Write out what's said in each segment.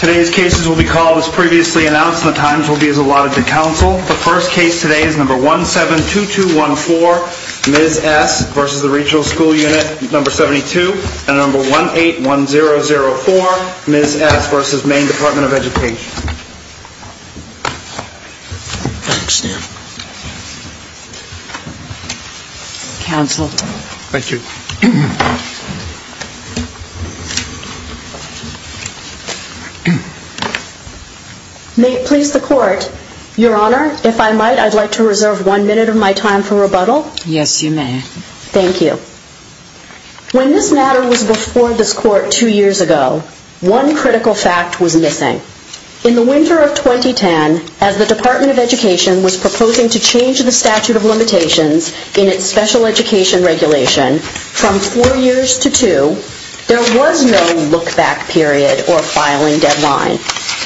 Today's cases will be called as previously announced and the times will be as allotted to Council. The first case today is number 172214, Ms. S. v. Regional School Unit 72 and number 181004, Ms. S. v. Main Department of Education. May it please the Court, Your Honor, if I might, I'd like to reserve one minute of my time for rebuttal. Yes, you may. Thank you. When this matter was before this Court two critical fact was missing. In the winter of 2010, as the Department of Education was proposing to change the statute of limitations in its special education regulation from four years to two, there was no look-back period or filing deadline.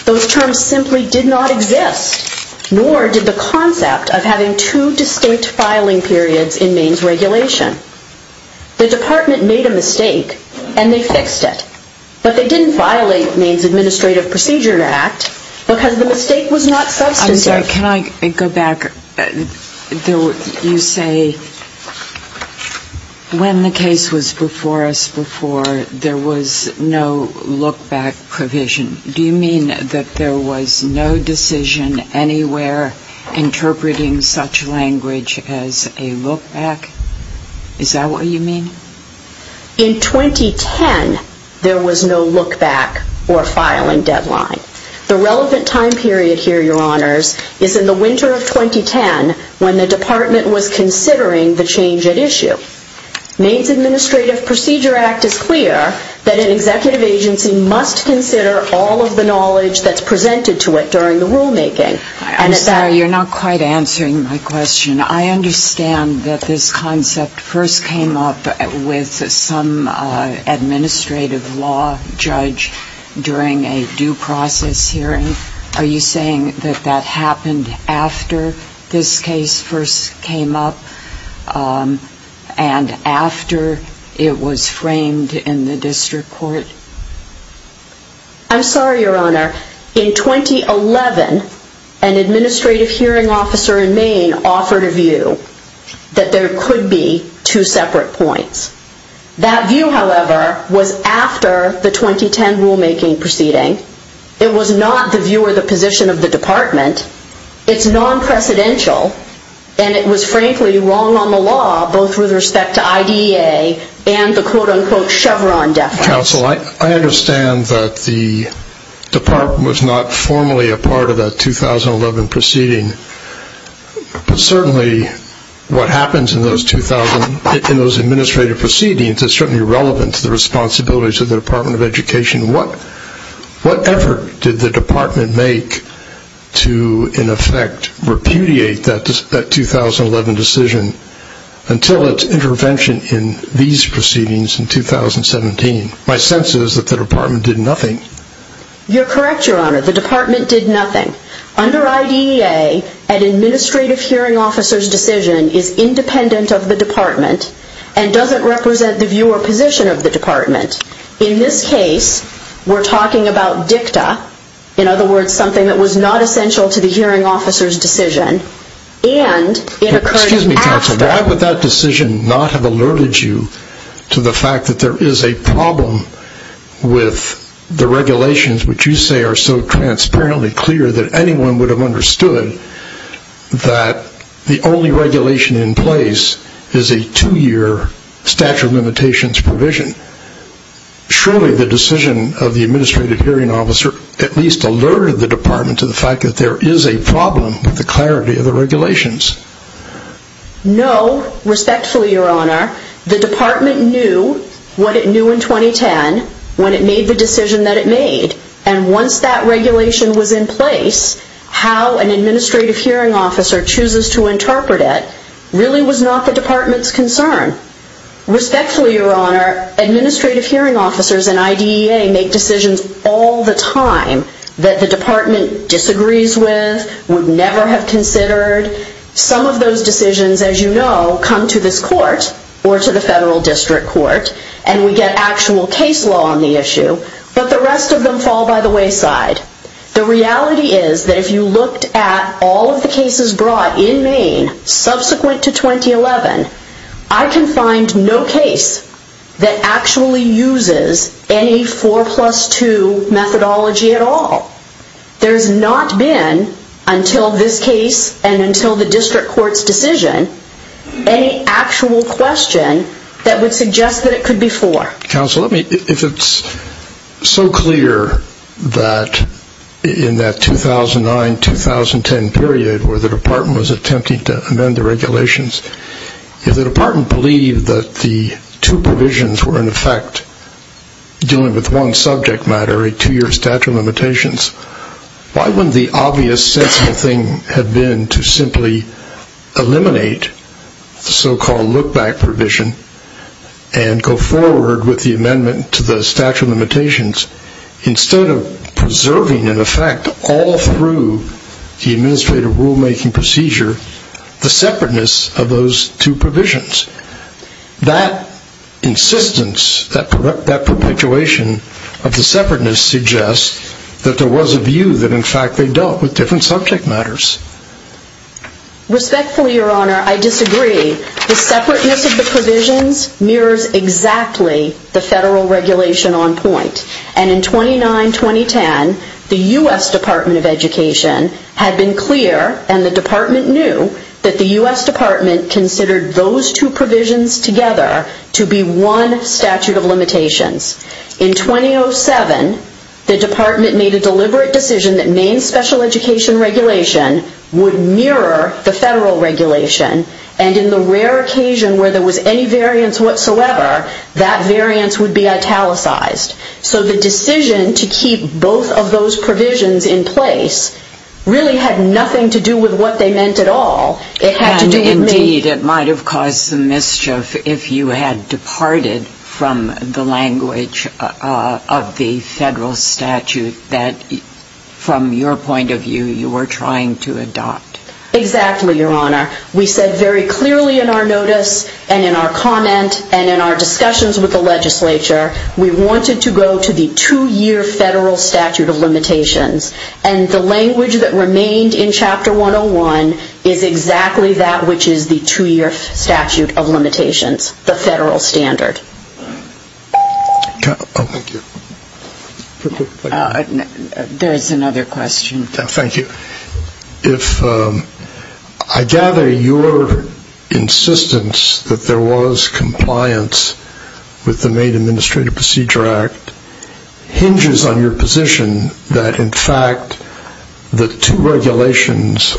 Those terms simply did not exist, nor did the concept of having two distinct filing periods in Maine's regulation. The Procedure Act, because the mistake was not substantive. I'm sorry, can I go back? You say when the case was before us before, there was no look-back provision. Do you mean that there was no decision anywhere interpreting such language as a look-back? Is that what you mean? In 2010, there was no look-back or filing deadline. The relevant time period here, Your Honors, is in the winter of 2010, when the Department was considering the change at issue. Maine's Administrative Procedure Act is clear that an executive agency must consider all of the knowledge that's presented to it during the rulemaking. I'm sorry, you're not quite answering my question. I understand that this concept first came up with some administrative law judge during a due process hearing. Are you saying that that happened after this case first came up and after it was framed in the district court? I'm sorry, Your Honor. In 2011, an administrative hearing officer in Maine offered a view that there could be two separate points. That view, however, was after the 2010 rulemaking proceeding. It was not the view or the position of the Department. It's non-precedential, and it was frankly wrong on the law, both with respect to IDEA and the quote-unquote Chevron deference. Counsel, I understand that the Department was not formally a part of that 2011 proceeding, but certainly what happens in those administrative proceedings is certainly relevant to the responsibilities of the Department of Education. What effort did the Department make to, in effect, repudiate that 2011 decision until its intervention in these proceedings in 2017? My sense is that the Department did nothing. You're correct, Your Honor. The Department did nothing. Under IDEA, an administrative hearing officer's decision is independent of the Department and doesn't represent the view or position of the Department. In this case, we're talking about dicta, in other words, something that was not essential to the hearing officer's decision, and it occurred after... Excuse me, Counsel. Why would that decision not have alerted you to the fact that there is a problem with the regulations which you say are so transparently clear that anyone would have understood that the only regulation in place is a two-year statute of limitations provision? Surely the decision of the administrative hearing officer at least alerted the Department to the fact that there is a problem with the clarity of the regulations. No. Respectfully, Your Honor, the Department knew what it knew in 2010 when it made the decision that it made, and once that regulation was in place, how an administrative hearing officer chooses to interpret it really was not the Department's concern. Respectfully, Your Honor, administrative hearing officers and IDEA make decisions all the time that the Department disagrees with, would never have considered. Some of those decisions, as you know, come to this court or to the federal district court, and we get actual case law on the issue, but the rest of them fall by the wayside. The reality is that if you looked at all of the cases brought in 2011, I can find no case that actually uses any 4 plus 2 methodology at all. There has not been, until this case and until the district court's decision, any actual question that would suggest that it could be 4. Counsel, let me, if it's so clear that in that 2009-2010 period where the Department was attempting to amend the regulations, if the Department believed that the two provisions were in effect dealing with one subject matter, a two-year statute of limitations, why wouldn't the obvious sensible thing have been to simply eliminate the so-called look-back provision and go forward with the amendment to the statute of limitations, instead of preserving, in effect, all through the administrative rule-making procedure, the separateness of those two provisions? That insistence, that perpetuation of the separateness suggests that there was a view that, in fact, they dealt with different subject matters. Respectfully, Your Honor, I disagree. The separateness of the provisions mirrors exactly the federal regulation on point. And in 2009-2010, the U.S. Department of Education had been clear, and the Department knew, that the U.S. Department considered those two provisions together to be one statute of limitations. In 2007, the Department made a deliberate decision that main special education regulation would mirror the federal regulation, and in the rare occasion where there was any variance whatsoever, that variance would be italicized. So the decision to keep both of those provisions in place really had nothing to do with what they meant at all. It had to do with me. And, indeed, it might have caused some mischief if you had departed from the language of the federal statute that, from your point of view, you were trying to adopt. Exactly, Your Honor. We said very clearly in our notice and in our comment and in our discussions with the legislature, we wanted to go to the two-year federal statute of limitations. And the language that remained in Chapter 101 is exactly that which is the two-year statute of limitations, the federal standard. Thank you. There is another question. Thank you. I gather your insistence that there was compliance with the Maine Administrative Procedure Act hinges on your position that, in fact, the two regulations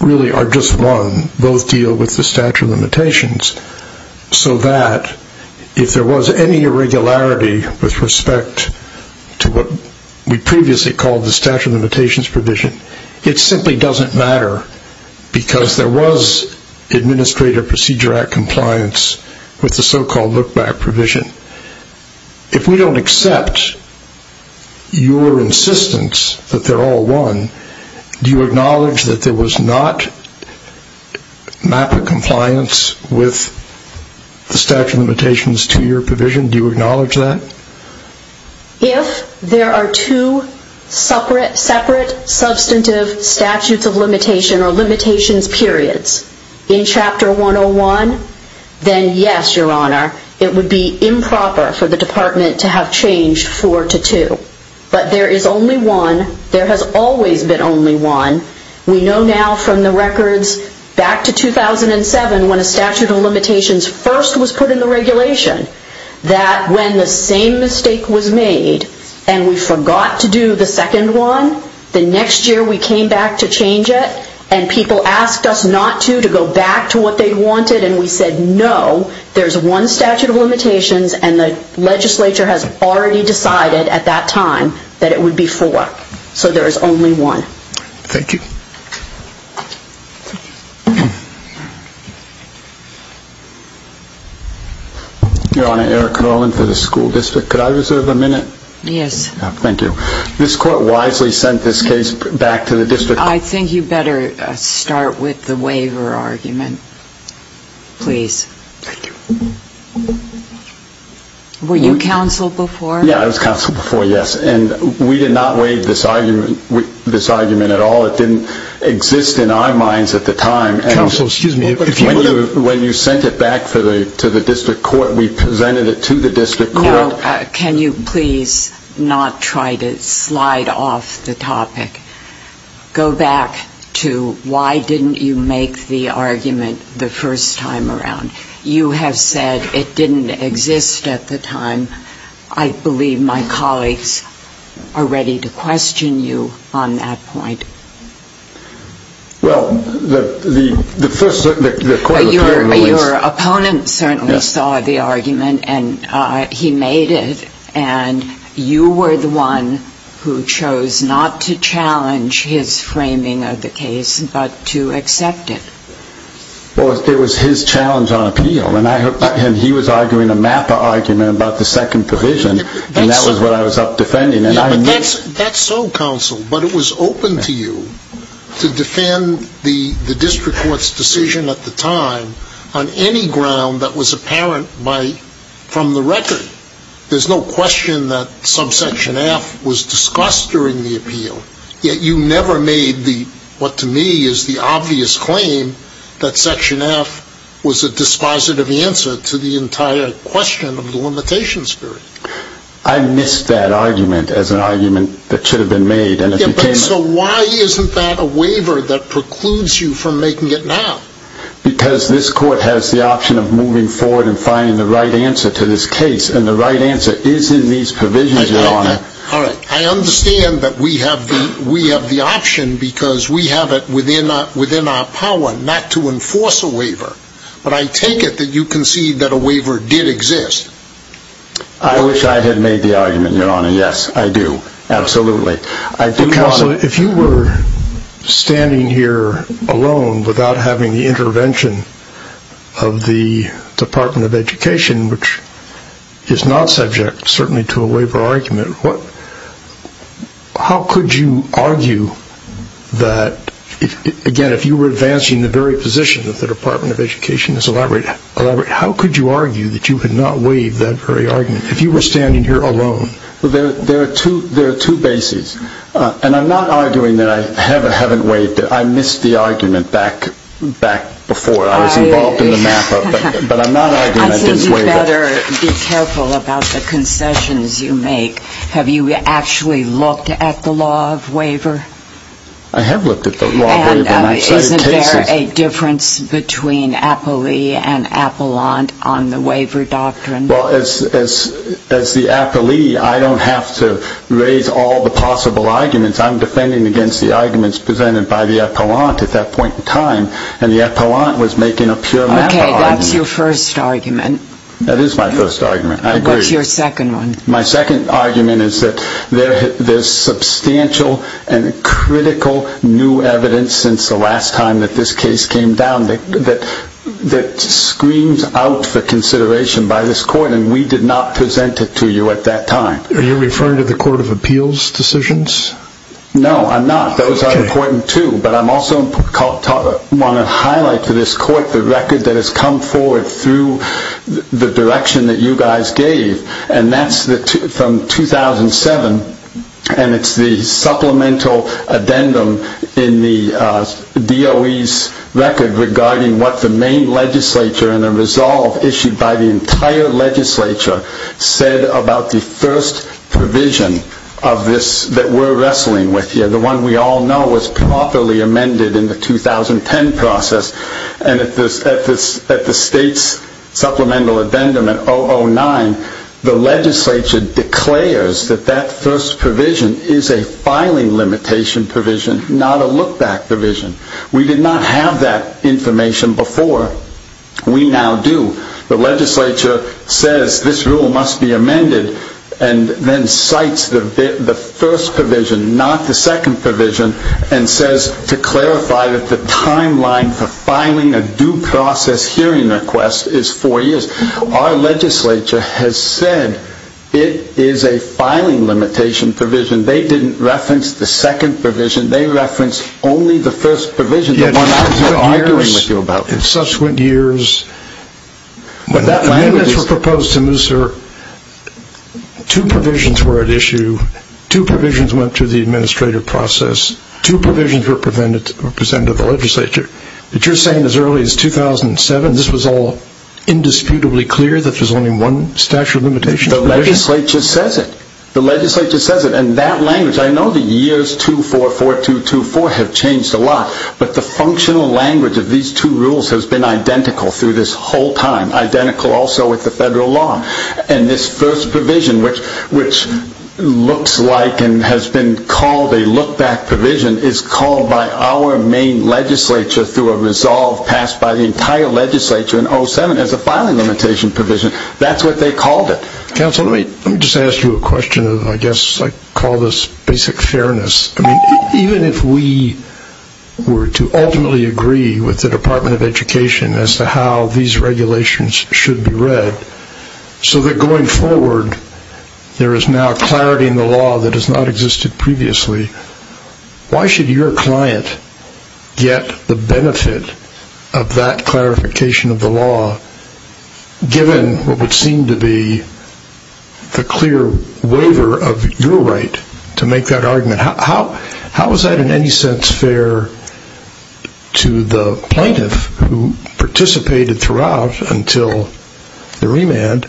really are just one. Both deal with the statute of limitations, so that if there was any irregularity with respect to what we previously called the statute of limitations provision, it simply doesn't matter because there was Administrative Procedure Act compliance with the so-called look-back provision. If we don't accept your insistence that they're all one, do you acknowledge that there was not map of compliance with the statute of limitations two-year provision? Do you acknowledge that? If there are two separate substantive statutes of limitation or limitations periods in Chapter 101, then yes, Your Honor, it would be improper for the Department to have changed four to two. But there is only one. There has always been only one. We know now from the records back to 2007 when a statute of limitations first was put in the regulation that when the same mistake was made and we forgot to do the second one, the next year we came back to change it and people asked us not to, to go back to what they wanted and we said no, there's one statute of limitations and the legislature has already decided at that time that it would be four. So there is only one. Thank you. Your Honor, Eric Carlin for the School District. Could I reserve a minute? Yes. Thank you. This Court wisely sent this case back to the District. I think you better start with the waiver argument, please. Thank you. Were you counsel before? Yeah, I was counsel before, yes. And we did not waive this argument at all. It didn't exist in our minds at the time. Counsel, excuse me. When you sent it back to the District Court, we presented it to the District Court. Now, can you please not try to slide off the topic? Go back to why didn't you make the argument the first time around? You have said it didn't exist at the time. I believe my colleagues are ready to question you on that point. Well, the first, the Court of Appeals. Your opponent certainly saw the argument and he made it. And you were the one who chose not to challenge his framing of the case but to accept it. Well, it was his challenge on appeal. And he was arguing a MAPA argument about the second provision. And that was what I was up defending. That's so, counsel. But it was open to you to defend the District Court's decision at the time on any ground that was apparent from the record. There's no question that subsection F was discussed during the appeal. Yet you never made what to me is the obvious claim that section F was a dispositive answer to the entire question of the limitation spirit. I missed that argument as an argument that should have been made. So why isn't that a waiver that precludes you from making it now? Because this Court has the option of moving forward and finding the right answer to this case. All right. I understand that we have the option because we have it within our power not to enforce a waiver. But I take it that you concede that a waiver did exist. I wish I had made the argument, Your Honor. Yes, I do. Absolutely. Counsel, if you were standing here alone without having the intervention of the Department of Education, which is not subject certainly to a waiver argument, how could you argue that, again, if you were advancing the very position that the Department of Education has elaborated, how could you argue that you had not waived that very argument if you were standing here alone? There are two bases. And I'm not arguing that I haven't waived it. I missed the argument back before. I was involved in the map-up. But I'm not arguing I didn't waive it. Counsel, you better be careful about the concessions you make. Have you actually looked at the law of waiver? I have looked at the law of waiver. And isn't there a difference between Apolli and Apollant on the waiver doctrine? Well, as the Apolli, I don't have to raise all the possible arguments. I'm defending against the arguments presented by the Apollant at that point in time. And the Apollant was making a pure map-up. Okay. That's your first argument. That is my first argument. I agree. What's your second one? My second argument is that there's substantial and critical new evidence since the last time that this case came down that screams out for consideration by this court, and we did not present it to you at that time. Are you referring to the Court of Appeals decisions? No, I'm not. Those are important, too. But I also want to highlight to this court the record that has come forward through the direction that you guys gave, and that's from 2007, and it's the supplemental addendum in the DOE's record regarding what the main legislature and the resolve issued by the entire legislature said about the first provision that we're wrestling with here, the one we all know was properly amended in the 2010 process. And at the state's supplemental addendum in 009, the legislature declares that that first provision is a filing limitation provision, not a look-back provision. We did not have that information before. We now do. The legislature says this rule must be amended and then cites the first provision, not the second provision, and says to clarify that the timeline for filing a due process hearing request is four years. Our legislature has said it is a filing limitation provision. They didn't reference the second provision. They referenced only the first provision, the one I was arguing with you about. Two provisions were at issue. Two provisions went to the administrative process. Two provisions were presented to the legislature. But you're saying as early as 2007 this was all indisputably clear that there was only one statute of limitations? The legislature says it. The legislature says it. And that language, I know the years 2004, 2002, 2004 have changed a lot, but the functional language of these two rules has been identical through this whole time, identical also with the federal law. And this first provision, which looks like and has been called a look-back provision, is called by our main legislature through a resolve passed by the entire legislature in 2007 as a filing limitation provision. That's what they called it. Counsel, let me just ask you a question. I guess I call this basic fairness. Even if we were to ultimately agree with the Department of Education as to how these regulations should be read, so that going forward there is now clarity in the law that has not existed previously, why should your client get the benefit of that clarification of the law, given what would seem to be the clear waiver of your right to make that argument? How is that in any sense fair to the plaintiff who participated throughout until the remand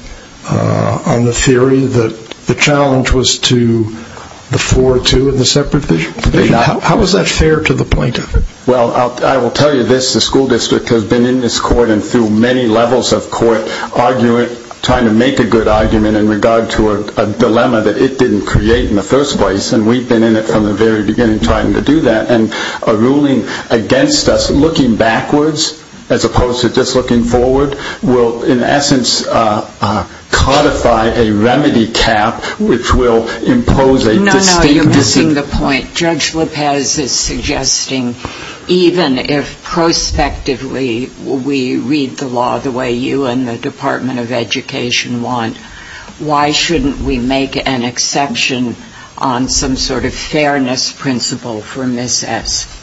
on the theory that the challenge was to the 4-2 in the separate provision? How is that fair to the plaintiff? Well, I will tell you this. The school district has been in this court and through many levels of court trying to make a good argument in regard to a dilemma that it didn't create in the first place. And we've been in it from the very beginning trying to do that. And a ruling against us looking backwards as opposed to just looking forward will in essence codify a remedy cap which will impose a distinct decision. No, no, you're missing the point. Judge Lopez is suggesting even if prospectively we read the law the way you and the Department of Education want, why shouldn't we make an exception on some sort of fairness principle for Ms. S.?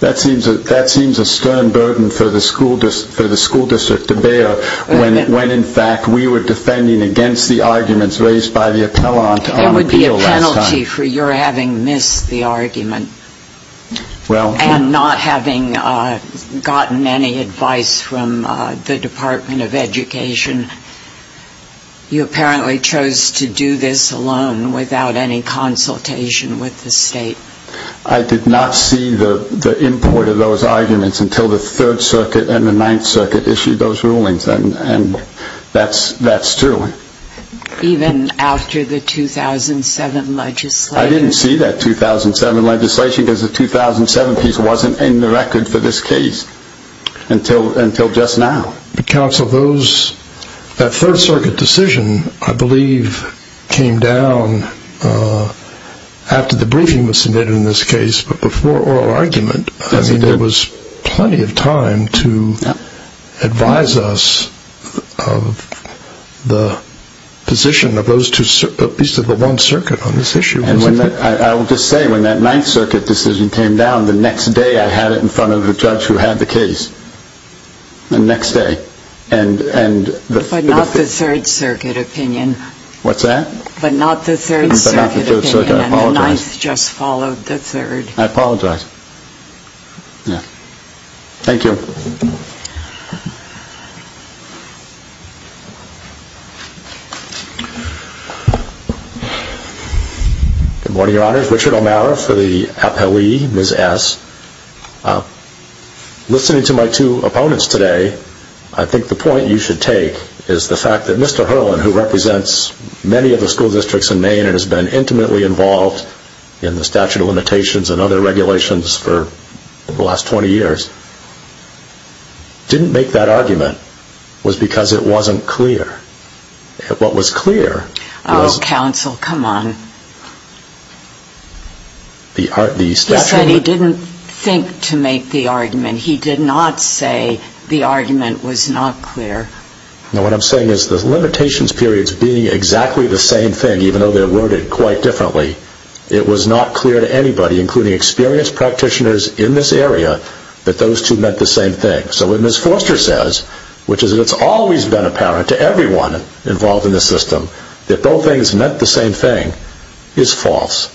That seems a stern burden for the school district to bear when in fact we were defending against the arguments raised by the appellant on appeal last time. I'm guilty for your having missed the argument and not having gotten any advice from the Department of Education. You apparently chose to do this alone without any consultation with the state. I did not see the import of those arguments until the Third Circuit and the Ninth Circuit issued those rulings. And that's true. Even after the 2007 legislation? I didn't see that 2007 legislation because the 2007 piece wasn't in the record for this case until just now. Counsel, that Third Circuit decision I believe came down after the briefing was submitted in this case but before oral argument there was plenty of time to advise us of the position of those two, at least of the one circuit on this issue. I will just say when that Ninth Circuit decision came down, the next day I had it in front of a judge who had the case. The next day. But not the Third Circuit opinion. What's that? But not the Third Circuit opinion. I apologize. And the Ninth just followed the Third. I apologize. Thank you. Good morning, Your Honors. Richard O'Mara for the APOE, Ms. S. Listening to my two opponents today, I think the point you should take is the fact that Mr. Herlin, who represents many of the school districts in Maine and has been intimately involved in the statute of limitations and other regulations for the last 20 years, didn't make that argument was because it wasn't clear. What was clear was... Oh, Counsel, come on. He said he didn't think to make the argument. He did not say the argument was not clear. No, what I'm saying is the limitations periods being exactly the same thing, even though they're worded quite differently, it was not clear to anybody, including experienced practitioners in this area, that those two meant the same thing. So what Ms. Forster says, which is it's always been apparent to everyone involved in the system, that both things meant the same thing, is false.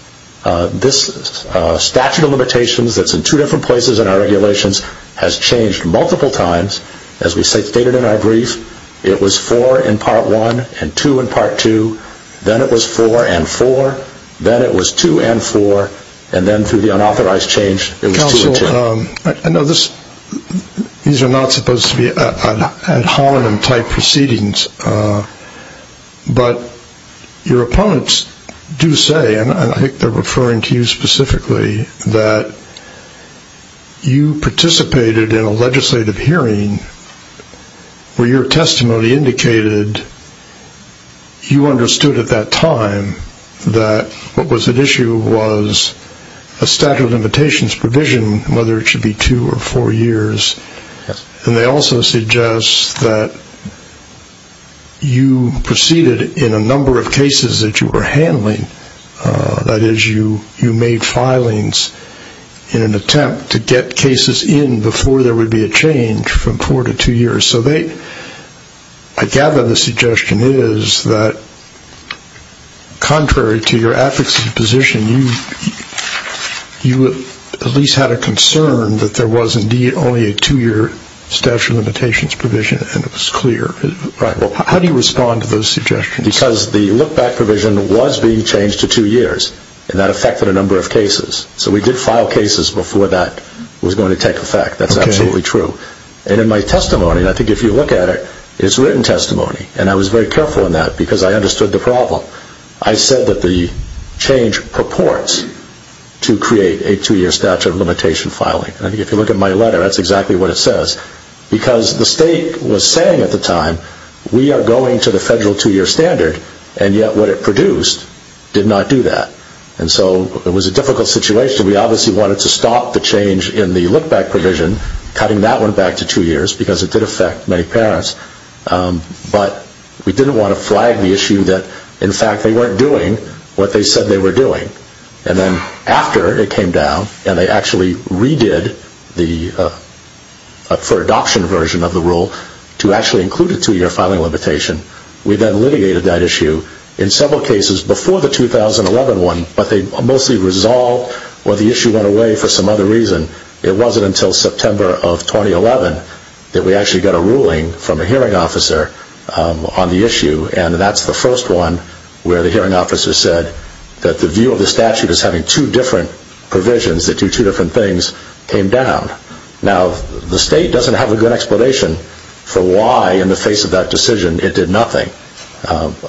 This statute of limitations that's in two different places in our regulations has changed multiple times, as we stated in our brief. It was four in part one and two in part two. Then it was four and four. Then it was two and four. And then through the unauthorized change, it was two and two. Counsel, I know these are not supposed to be ad hominem type proceedings, but your opponents do say, and I think they're referring to you specifically, that you participated in a legislative hearing where your testimony indicated you understood at that time that what was at issue was a statute of limitations provision, whether it should be two or four years. And they also suggest that you proceeded in a number of cases that you were handling. That is, you made filings in an attempt to get cases in before there would be a change from four to two years. So I gather the suggestion is that contrary to your advocacy position, you at least had a concern that there was indeed only a two-year statute of limitations provision, and it was clear. How do you respond to those suggestions? Because the look-back provision was being changed to two years, and that affected a number of cases. So we did file cases before that was going to take effect. That's absolutely true. And in my testimony, and I think if you look at it, it's written testimony, and I was very careful in that because I understood the problem. I said that the change purports to create a two-year statute of limitation filing. I think if you look at my letter, that's exactly what it says. Because the state was saying at the time, we are going to the federal two-year standard, and yet what it produced did not do that. And so it was a difficult situation. We obviously wanted to stop the change in the look-back provision, cutting that one back to two years because it did affect many parents. But we didn't want to flag the issue that, in fact, they weren't doing what they said they were doing. And then after it came down and they actually redid the for adoption version of the rule to actually include a two-year filing limitation, we then litigated that issue in several cases before the 2011 one, but they mostly resolved or the issue went away for some other reason. It wasn't until September of 2011 that we actually got a ruling from a hearing officer on the issue, and that's the first one where the hearing officer said that the view of the statute as having two different provisions that do two different things came down. Now, the state doesn't have a good explanation for why, in the face of that decision, it did nothing.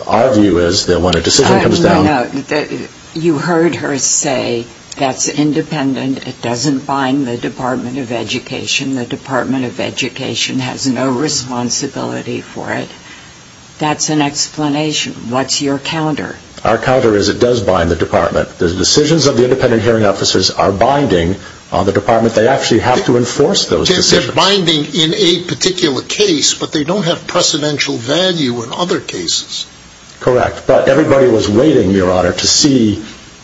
Our view is that when a decision comes down... No, no, no. You heard her say that's independent. It doesn't bind the Department of Education. The Department of Education has no responsibility for it. That's an explanation. What's your counter? Our counter is it does bind the Department. The decisions of the independent hearing officers are binding on the Department. They actually have to enforce those decisions. They're binding in a particular case, but they don't have precedential value in other cases. Correct, but everybody was waiting, Your Honor, to see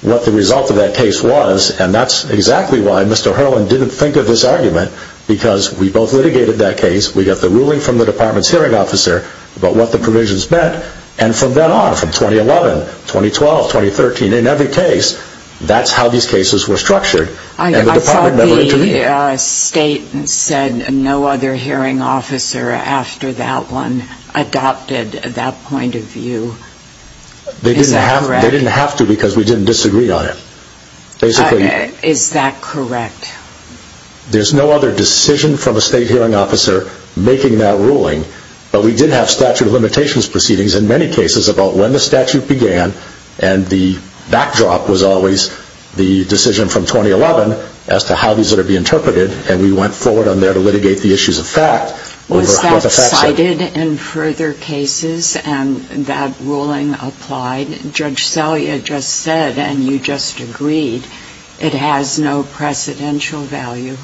what the result of that case was, and that's exactly why Mr. Herlin didn't think of this argument, because we both litigated that case. We got the ruling from the Department's hearing officer about what the provisions meant, and from then on, from 2011, 2012, 2013, in every case, that's how these cases were structured, and the Department never intervened. I thought the state said no other hearing officer after that one adopted that point of view. Is that correct? They didn't have to because we didn't disagree on it. Is that correct? There's no other decision from a state hearing officer making that ruling, but we did have statute of limitations proceedings in many cases about when the statute began, and the backdrop was always the decision from 2011 as to how these are to be interpreted, and we went forward on there to litigate the issues of fact. Was that cited in further cases and that ruling applied? Judge Salyer just said, and you just agreed, it has no precedential value.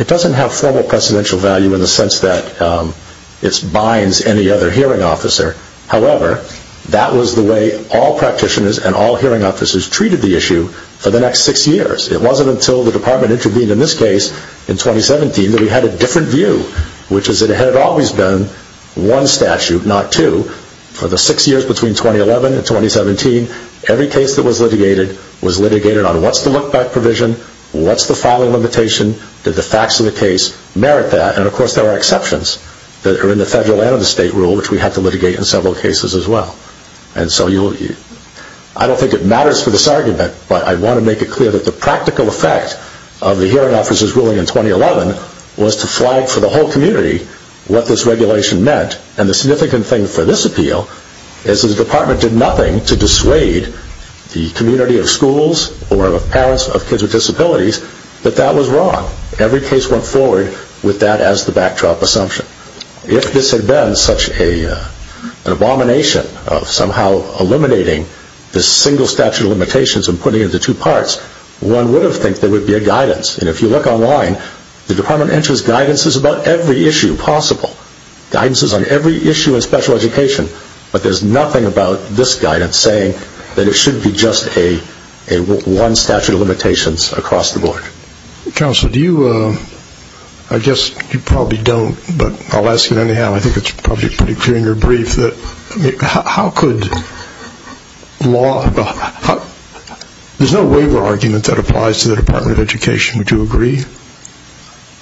It doesn't have formal precedential value in the sense that it binds any other hearing officer. However, that was the way all practitioners and all hearing officers treated the issue for the next six years. It wasn't until the Department intervened in this case in 2017 that we had a different view, which is that it had always been one statute, not two. For the six years between 2011 and 2017, every case that was litigated was litigated on what's the look back provision, what's the filing limitation, did the facts of the case merit that, and of course there were exceptions that are in the federal and the state rule, which we had to litigate in several cases as well. I don't think it matters for this argument, but I want to make it clear that the practical effect of the hearing officer's ruling in 2011 was to flag for the whole community what this regulation meant, and the significant thing for this appeal is that the Department did nothing to dissuade the community of schools or parents of kids with disabilities that that was wrong. Every case went forward with that as the backdrop assumption. If this had been such an abomination of somehow eliminating the single statute of limitations and putting it into two parts, one would have thought there would be a guidance. And if you look online, the Department enters guidances about every issue possible, guidances on every issue in special education, but there's nothing about this guidance saying that it should be just a one statute of limitations across the board. Counsel, do you, I guess you probably don't, but I'll ask you anyhow. I think it's probably pretty clear in your brief that how could law, there's no waiver argument that applies to the Department of Education, would you agree?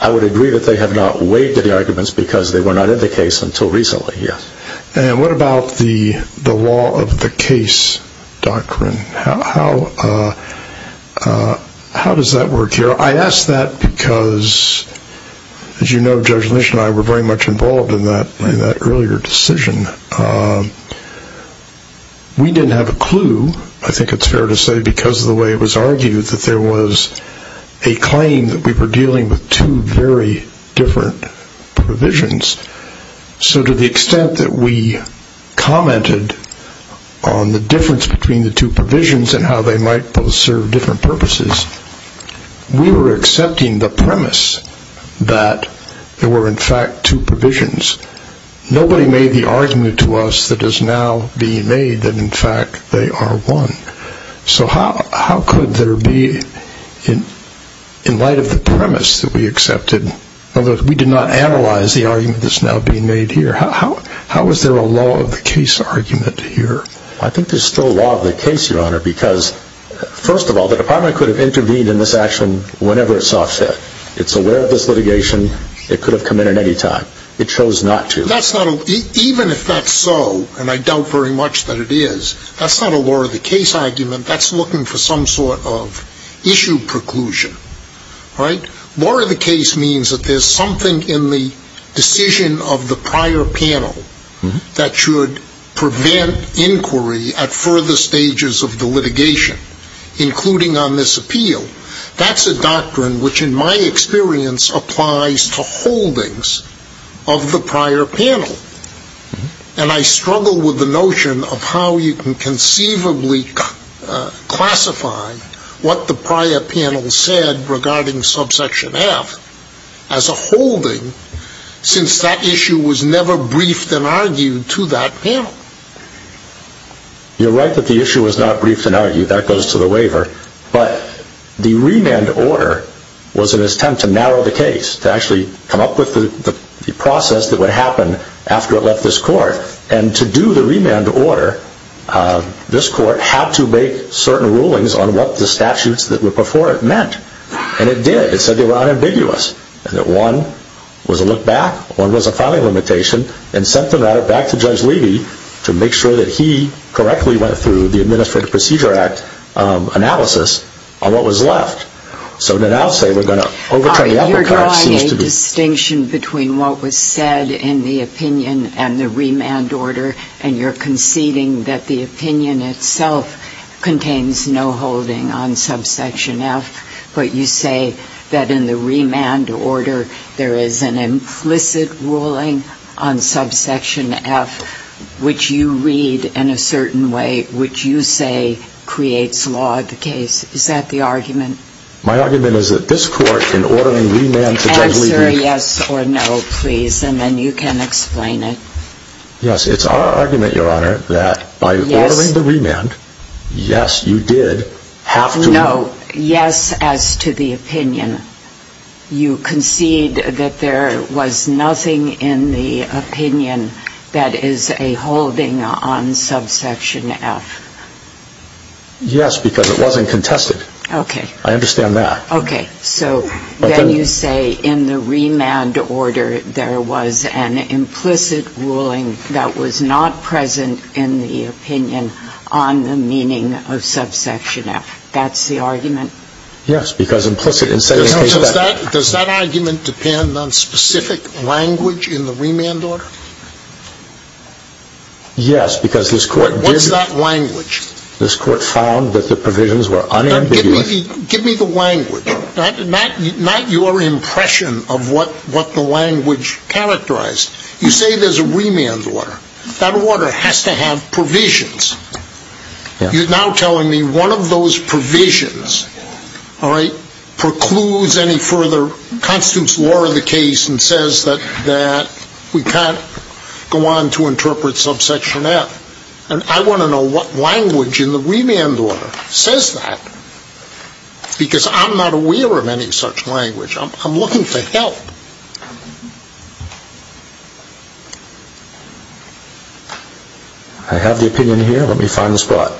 I would agree that they have not waived any arguments because they were not in the case until recently, yes. And what about the law of the case doctrine? How does that work here? I ask that because, as you know, Judge Lynch and I were very much involved in that earlier decision. We didn't have a clue, I think it's fair to say, because of the way it was argued that there was a claim that we were dealing with two very different provisions. So to the extent that we commented on the difference between the two provisions and how they might both serve different purposes, we were accepting the premise that there were, in fact, two provisions. Nobody made the argument to us that is now being made that, in fact, they are one. So how could there be, in light of the premise that we accepted, although we did not analyze the argument that's now being made here, how is there a law of the case argument here? I think there's still a law of the case, Your Honor, because, first of all, the Department could have intervened in this action whenever it saw fit. It's aware of this litigation. It could have come in at any time. It chose not to. Even if that's so, and I doubt very much that it is, that's not a law of the case argument. That's looking for some sort of issue preclusion, right? Law of the case means that there's something in the decision of the prior panel that should prevent inquiry at further stages of the litigation, including on this appeal. That's a doctrine which, in my experience, applies to holdings of the prior panel. And I struggle with the notion of how you can conceivably classify what the prior panel said regarding subsection F as a holding since that issue was never briefed and argued to that panel. You're right that the issue was not briefed and argued. That goes to the waiver. But the remand order was an attempt to narrow the case, to actually come up with the process that would happen after it left this court. And to do the remand order, this court had to make certain rulings on what the statutes that were before it meant. And it did. It said they were unambiguous, that one was a look back, one was a filing limitation, and sent the matter back to Judge Levy to make sure that he correctly went through the Administrative Procedure Act analysis on what was left. So then I'll say we're going to overturn the uppercut. You're drawing a distinction between what was said in the opinion and the remand order, and you're conceding that the opinion itself contains no holding on subsection F, but you say that in the remand order there is an implicit ruling on subsection F, which you read in a certain way, which you say creates law of the case. Is that the argument? My argument is that this court, in ordering remand to Judge Levy... Answer yes or no, please, and then you can explain it. Yes. It's our argument, Your Honor, that by ordering the remand, yes, you did have to... No. Yes as to the opinion. You concede that there was nothing in the opinion that is a holding on subsection F. Yes, because it wasn't contested. Okay. I understand that. Okay. So then you say in the remand order there was an implicit ruling that was not present in the opinion on the meaning of subsection F. That's the argument? Yes, because implicit... Does that argument depend on specific language in the remand order? Yes, because this court... What's that language? This court found that the provisions were unambiguous. Give me the language, not your impression of what the language characterized. You say there's a remand order. That order has to have provisions. You're now telling me one of those provisions, all right, precludes any further constitutes law in the case and says that we can't go on to interpret subsection F. And I want to know what language in the remand order says that, because I'm not aware of any such language. I'm looking for help. I have the opinion here. Let me find the spot.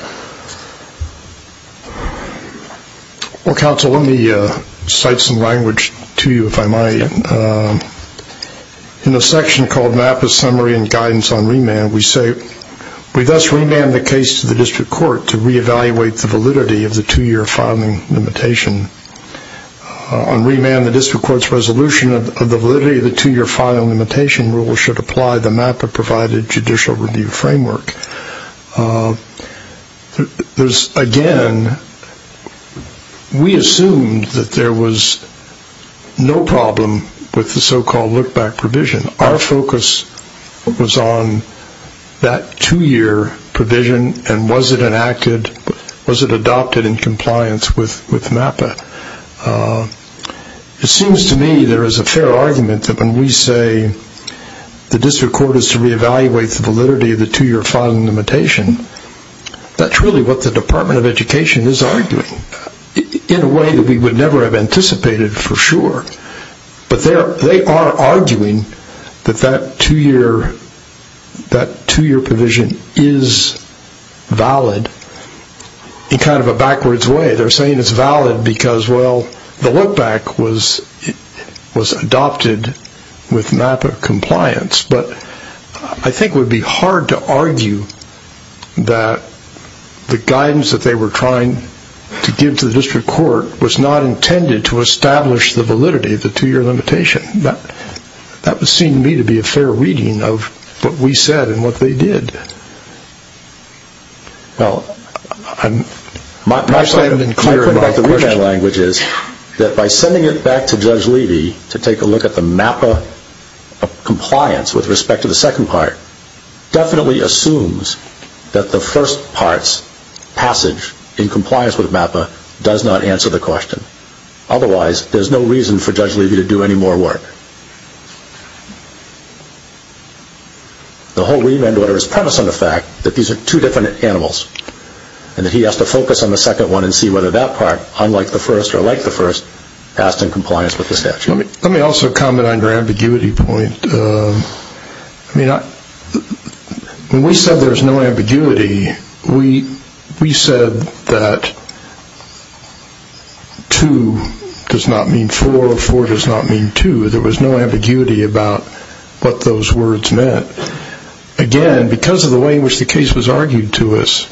Well, counsel, let me cite some language to you, if I might. In a section called MAPA's Summary and Guidance on Remand, we say we thus remand the case to the district court to re-evaluate the validity of the two-year filing limitation. On remand, the district court's resolution of the validity of the two-year filing limitation rule should apply the MAPA provided judicial review framework. Again, we assumed that there was no problem with the so-called look-back provision. Our focus was on that two-year provision, and was it adopted in compliance with MAPA? It seems to me there is a fair argument that when we say the district court is to re-evaluate the validity of the two-year filing limitation, that's really what the Department of Education is arguing in a way that we would never have anticipated for sure. But they are arguing that that two-year provision is valid in kind of a backwards way. They're saying it's valid because, well, the look-back was adopted with MAPA compliance. But I think it would be hard to argue that the guidance that they were trying to give to the district court was not intended to establish the validity of the two-year limitation. That would seem to me to be a fair reading of what we said and what they did. Well, my side of the question is that by sending it back to Judge Levy to take a look at the MAPA compliance with respect to the second part definitely assumes that the first part's passage in compliance with MAPA does not answer the question. Otherwise, there's no reason for Judge Levy to do any more work. The whole remand order is premised on the fact that these are two different animals and that he has to focus on the second one and see whether that part, unlike the first or like the first, passed in compliance with the statute. Let me also comment on your ambiguity point. When we said there was no ambiguity, we said that two does not mean four or four does not mean two. There was no ambiguity about what those words meant. Again, because of the way in which the case was argued to us,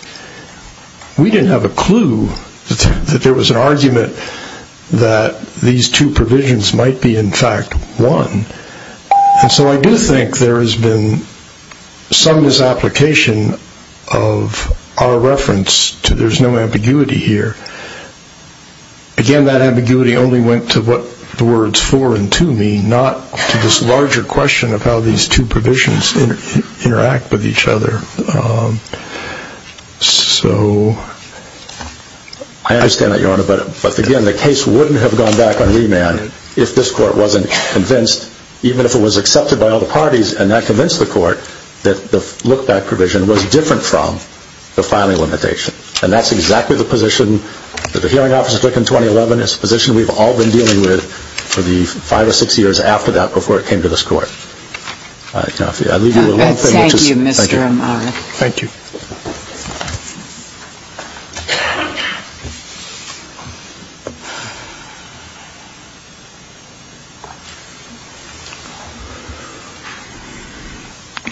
we didn't have a clue that there was an argument that these two provisions might be in fact one. And so I do think there has been some misapplication of our reference to there's no ambiguity here. Again, that ambiguity only went to what the words four and two mean, not to this larger question of how these two provisions interact with each other. So I understand that, Your Honor. But again, the case wouldn't have gone back on remand if this Court wasn't convinced, even if it was accepted by all the parties and that convinced the Court that the look-back provision was different from the filing limitation. And that's exactly the position that the hearing officers took in 2011. It's a position we've all been dealing with for the five or six years after that before it came to this Court. I leave you with one thing. Thank you, Mr. Amar. Thank you.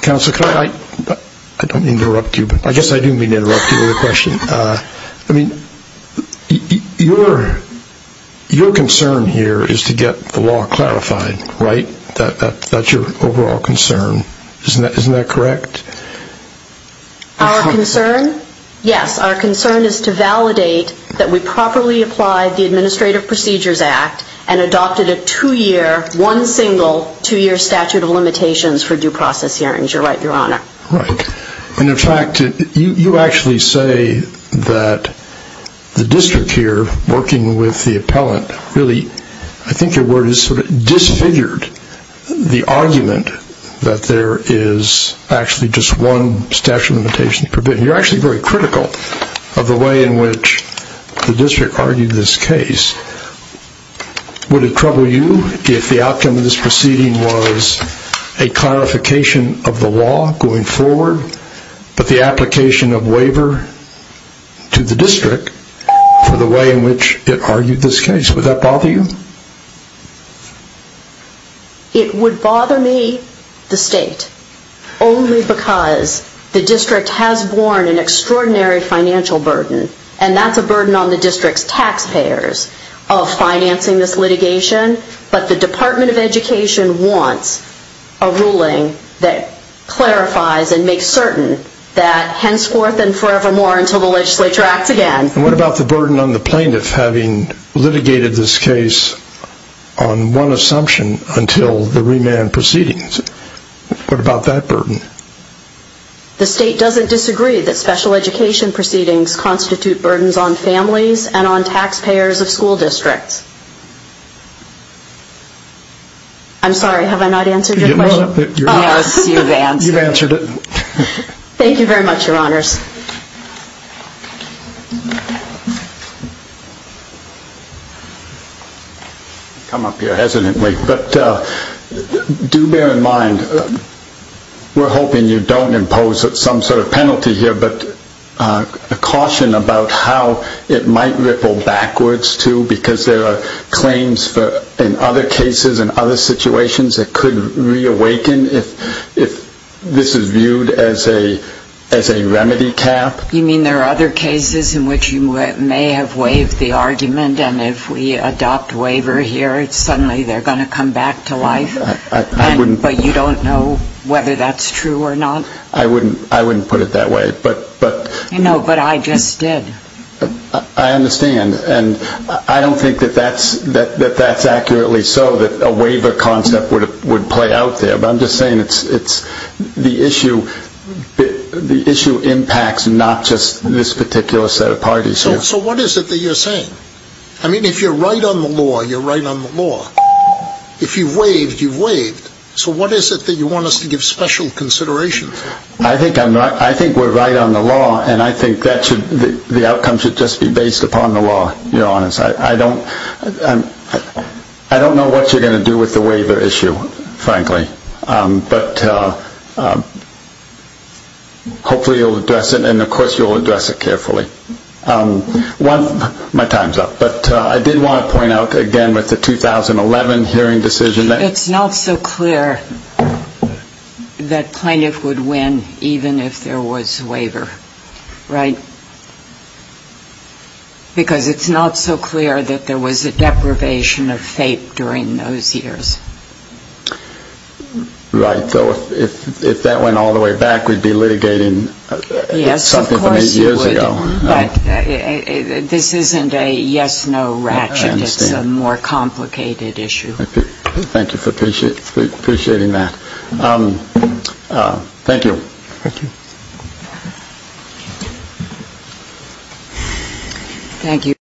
Counsel, can I? I don't mean to interrupt you, but I guess I do mean to interrupt you with a question. I mean, your concern here is to get the law clarified, right? That's your overall concern. Isn't that correct? Our concern? Yes. Our concern is to validate that we properly applied the Administrative Procedures Act and adopted a two-year, one single two-year statute of limitations for due process hearings. You're right, Your Honor. Right. And, in fact, you actually say that the district here, working with the appellant, really I think your word is sort of disfigured the argument that there is actually just one statute of limitations. You're actually very critical of the way in which the district argued this case. Would it trouble you if the outcome of this proceeding was a clarification of the law going forward, but the application of waiver to the district for the way in which it argued this case? Would that bother you? It would bother me, the State, only because the district has borne an extraordinary financial burden, and that's a burden on the district's taxpayers of financing this litigation, but the Department of Education wants a ruling that clarifies and makes certain that henceforth and forevermore until the legislature acts again. And what about the burden on the plaintiff having litigated this case on one assumption until the remand proceedings? What about that burden? The State doesn't disagree that special education proceedings constitute burdens on families and on taxpayers of school districts. I'm sorry, have I not answered your question? Yes, you've answered it. Thank you very much, Your Honors. I come up here hesitantly, but do bear in mind, we're hoping you don't impose some sort of penalty here, but a caution about how it might ripple backwards, too, because there are claims in other cases and other situations that could reawaken if this is viewed as a remedy cap. You mean there are other cases in which you may have waived the argument, and if we adopt waiver here, suddenly they're going to come back to life, but you don't know whether that's true or not? I wouldn't put it that way. No, but I just did. I understand, and I don't think that that's accurately so, that a waiver concept would play out there, but I'm just saying the issue impacts not just this particular set of parties. So what is it that you're saying? I mean, if you're right on the law, you're right on the law. If you've waived, you've waived. So what is it that you want us to give special consideration for? I think we're right on the law, and I think the outcome should just be based upon the law, Your Honors. I don't know what you're going to do with the waiver issue, frankly, but hopefully you'll address it, and of course you'll address it carefully. My time's up, but I did want to point out again with the 2011 hearing decision that It's not so clear that plaintiff would win even if there was waiver, right? Because it's not so clear that there was a deprivation of fate during those years. Right, so if that went all the way back, we'd be litigating something from eight years ago. Yes, of course you would, but this isn't a yes-no ratchet. I understand. It's a more complicated issue. Thank you for appreciating that. Thank you. Thank you.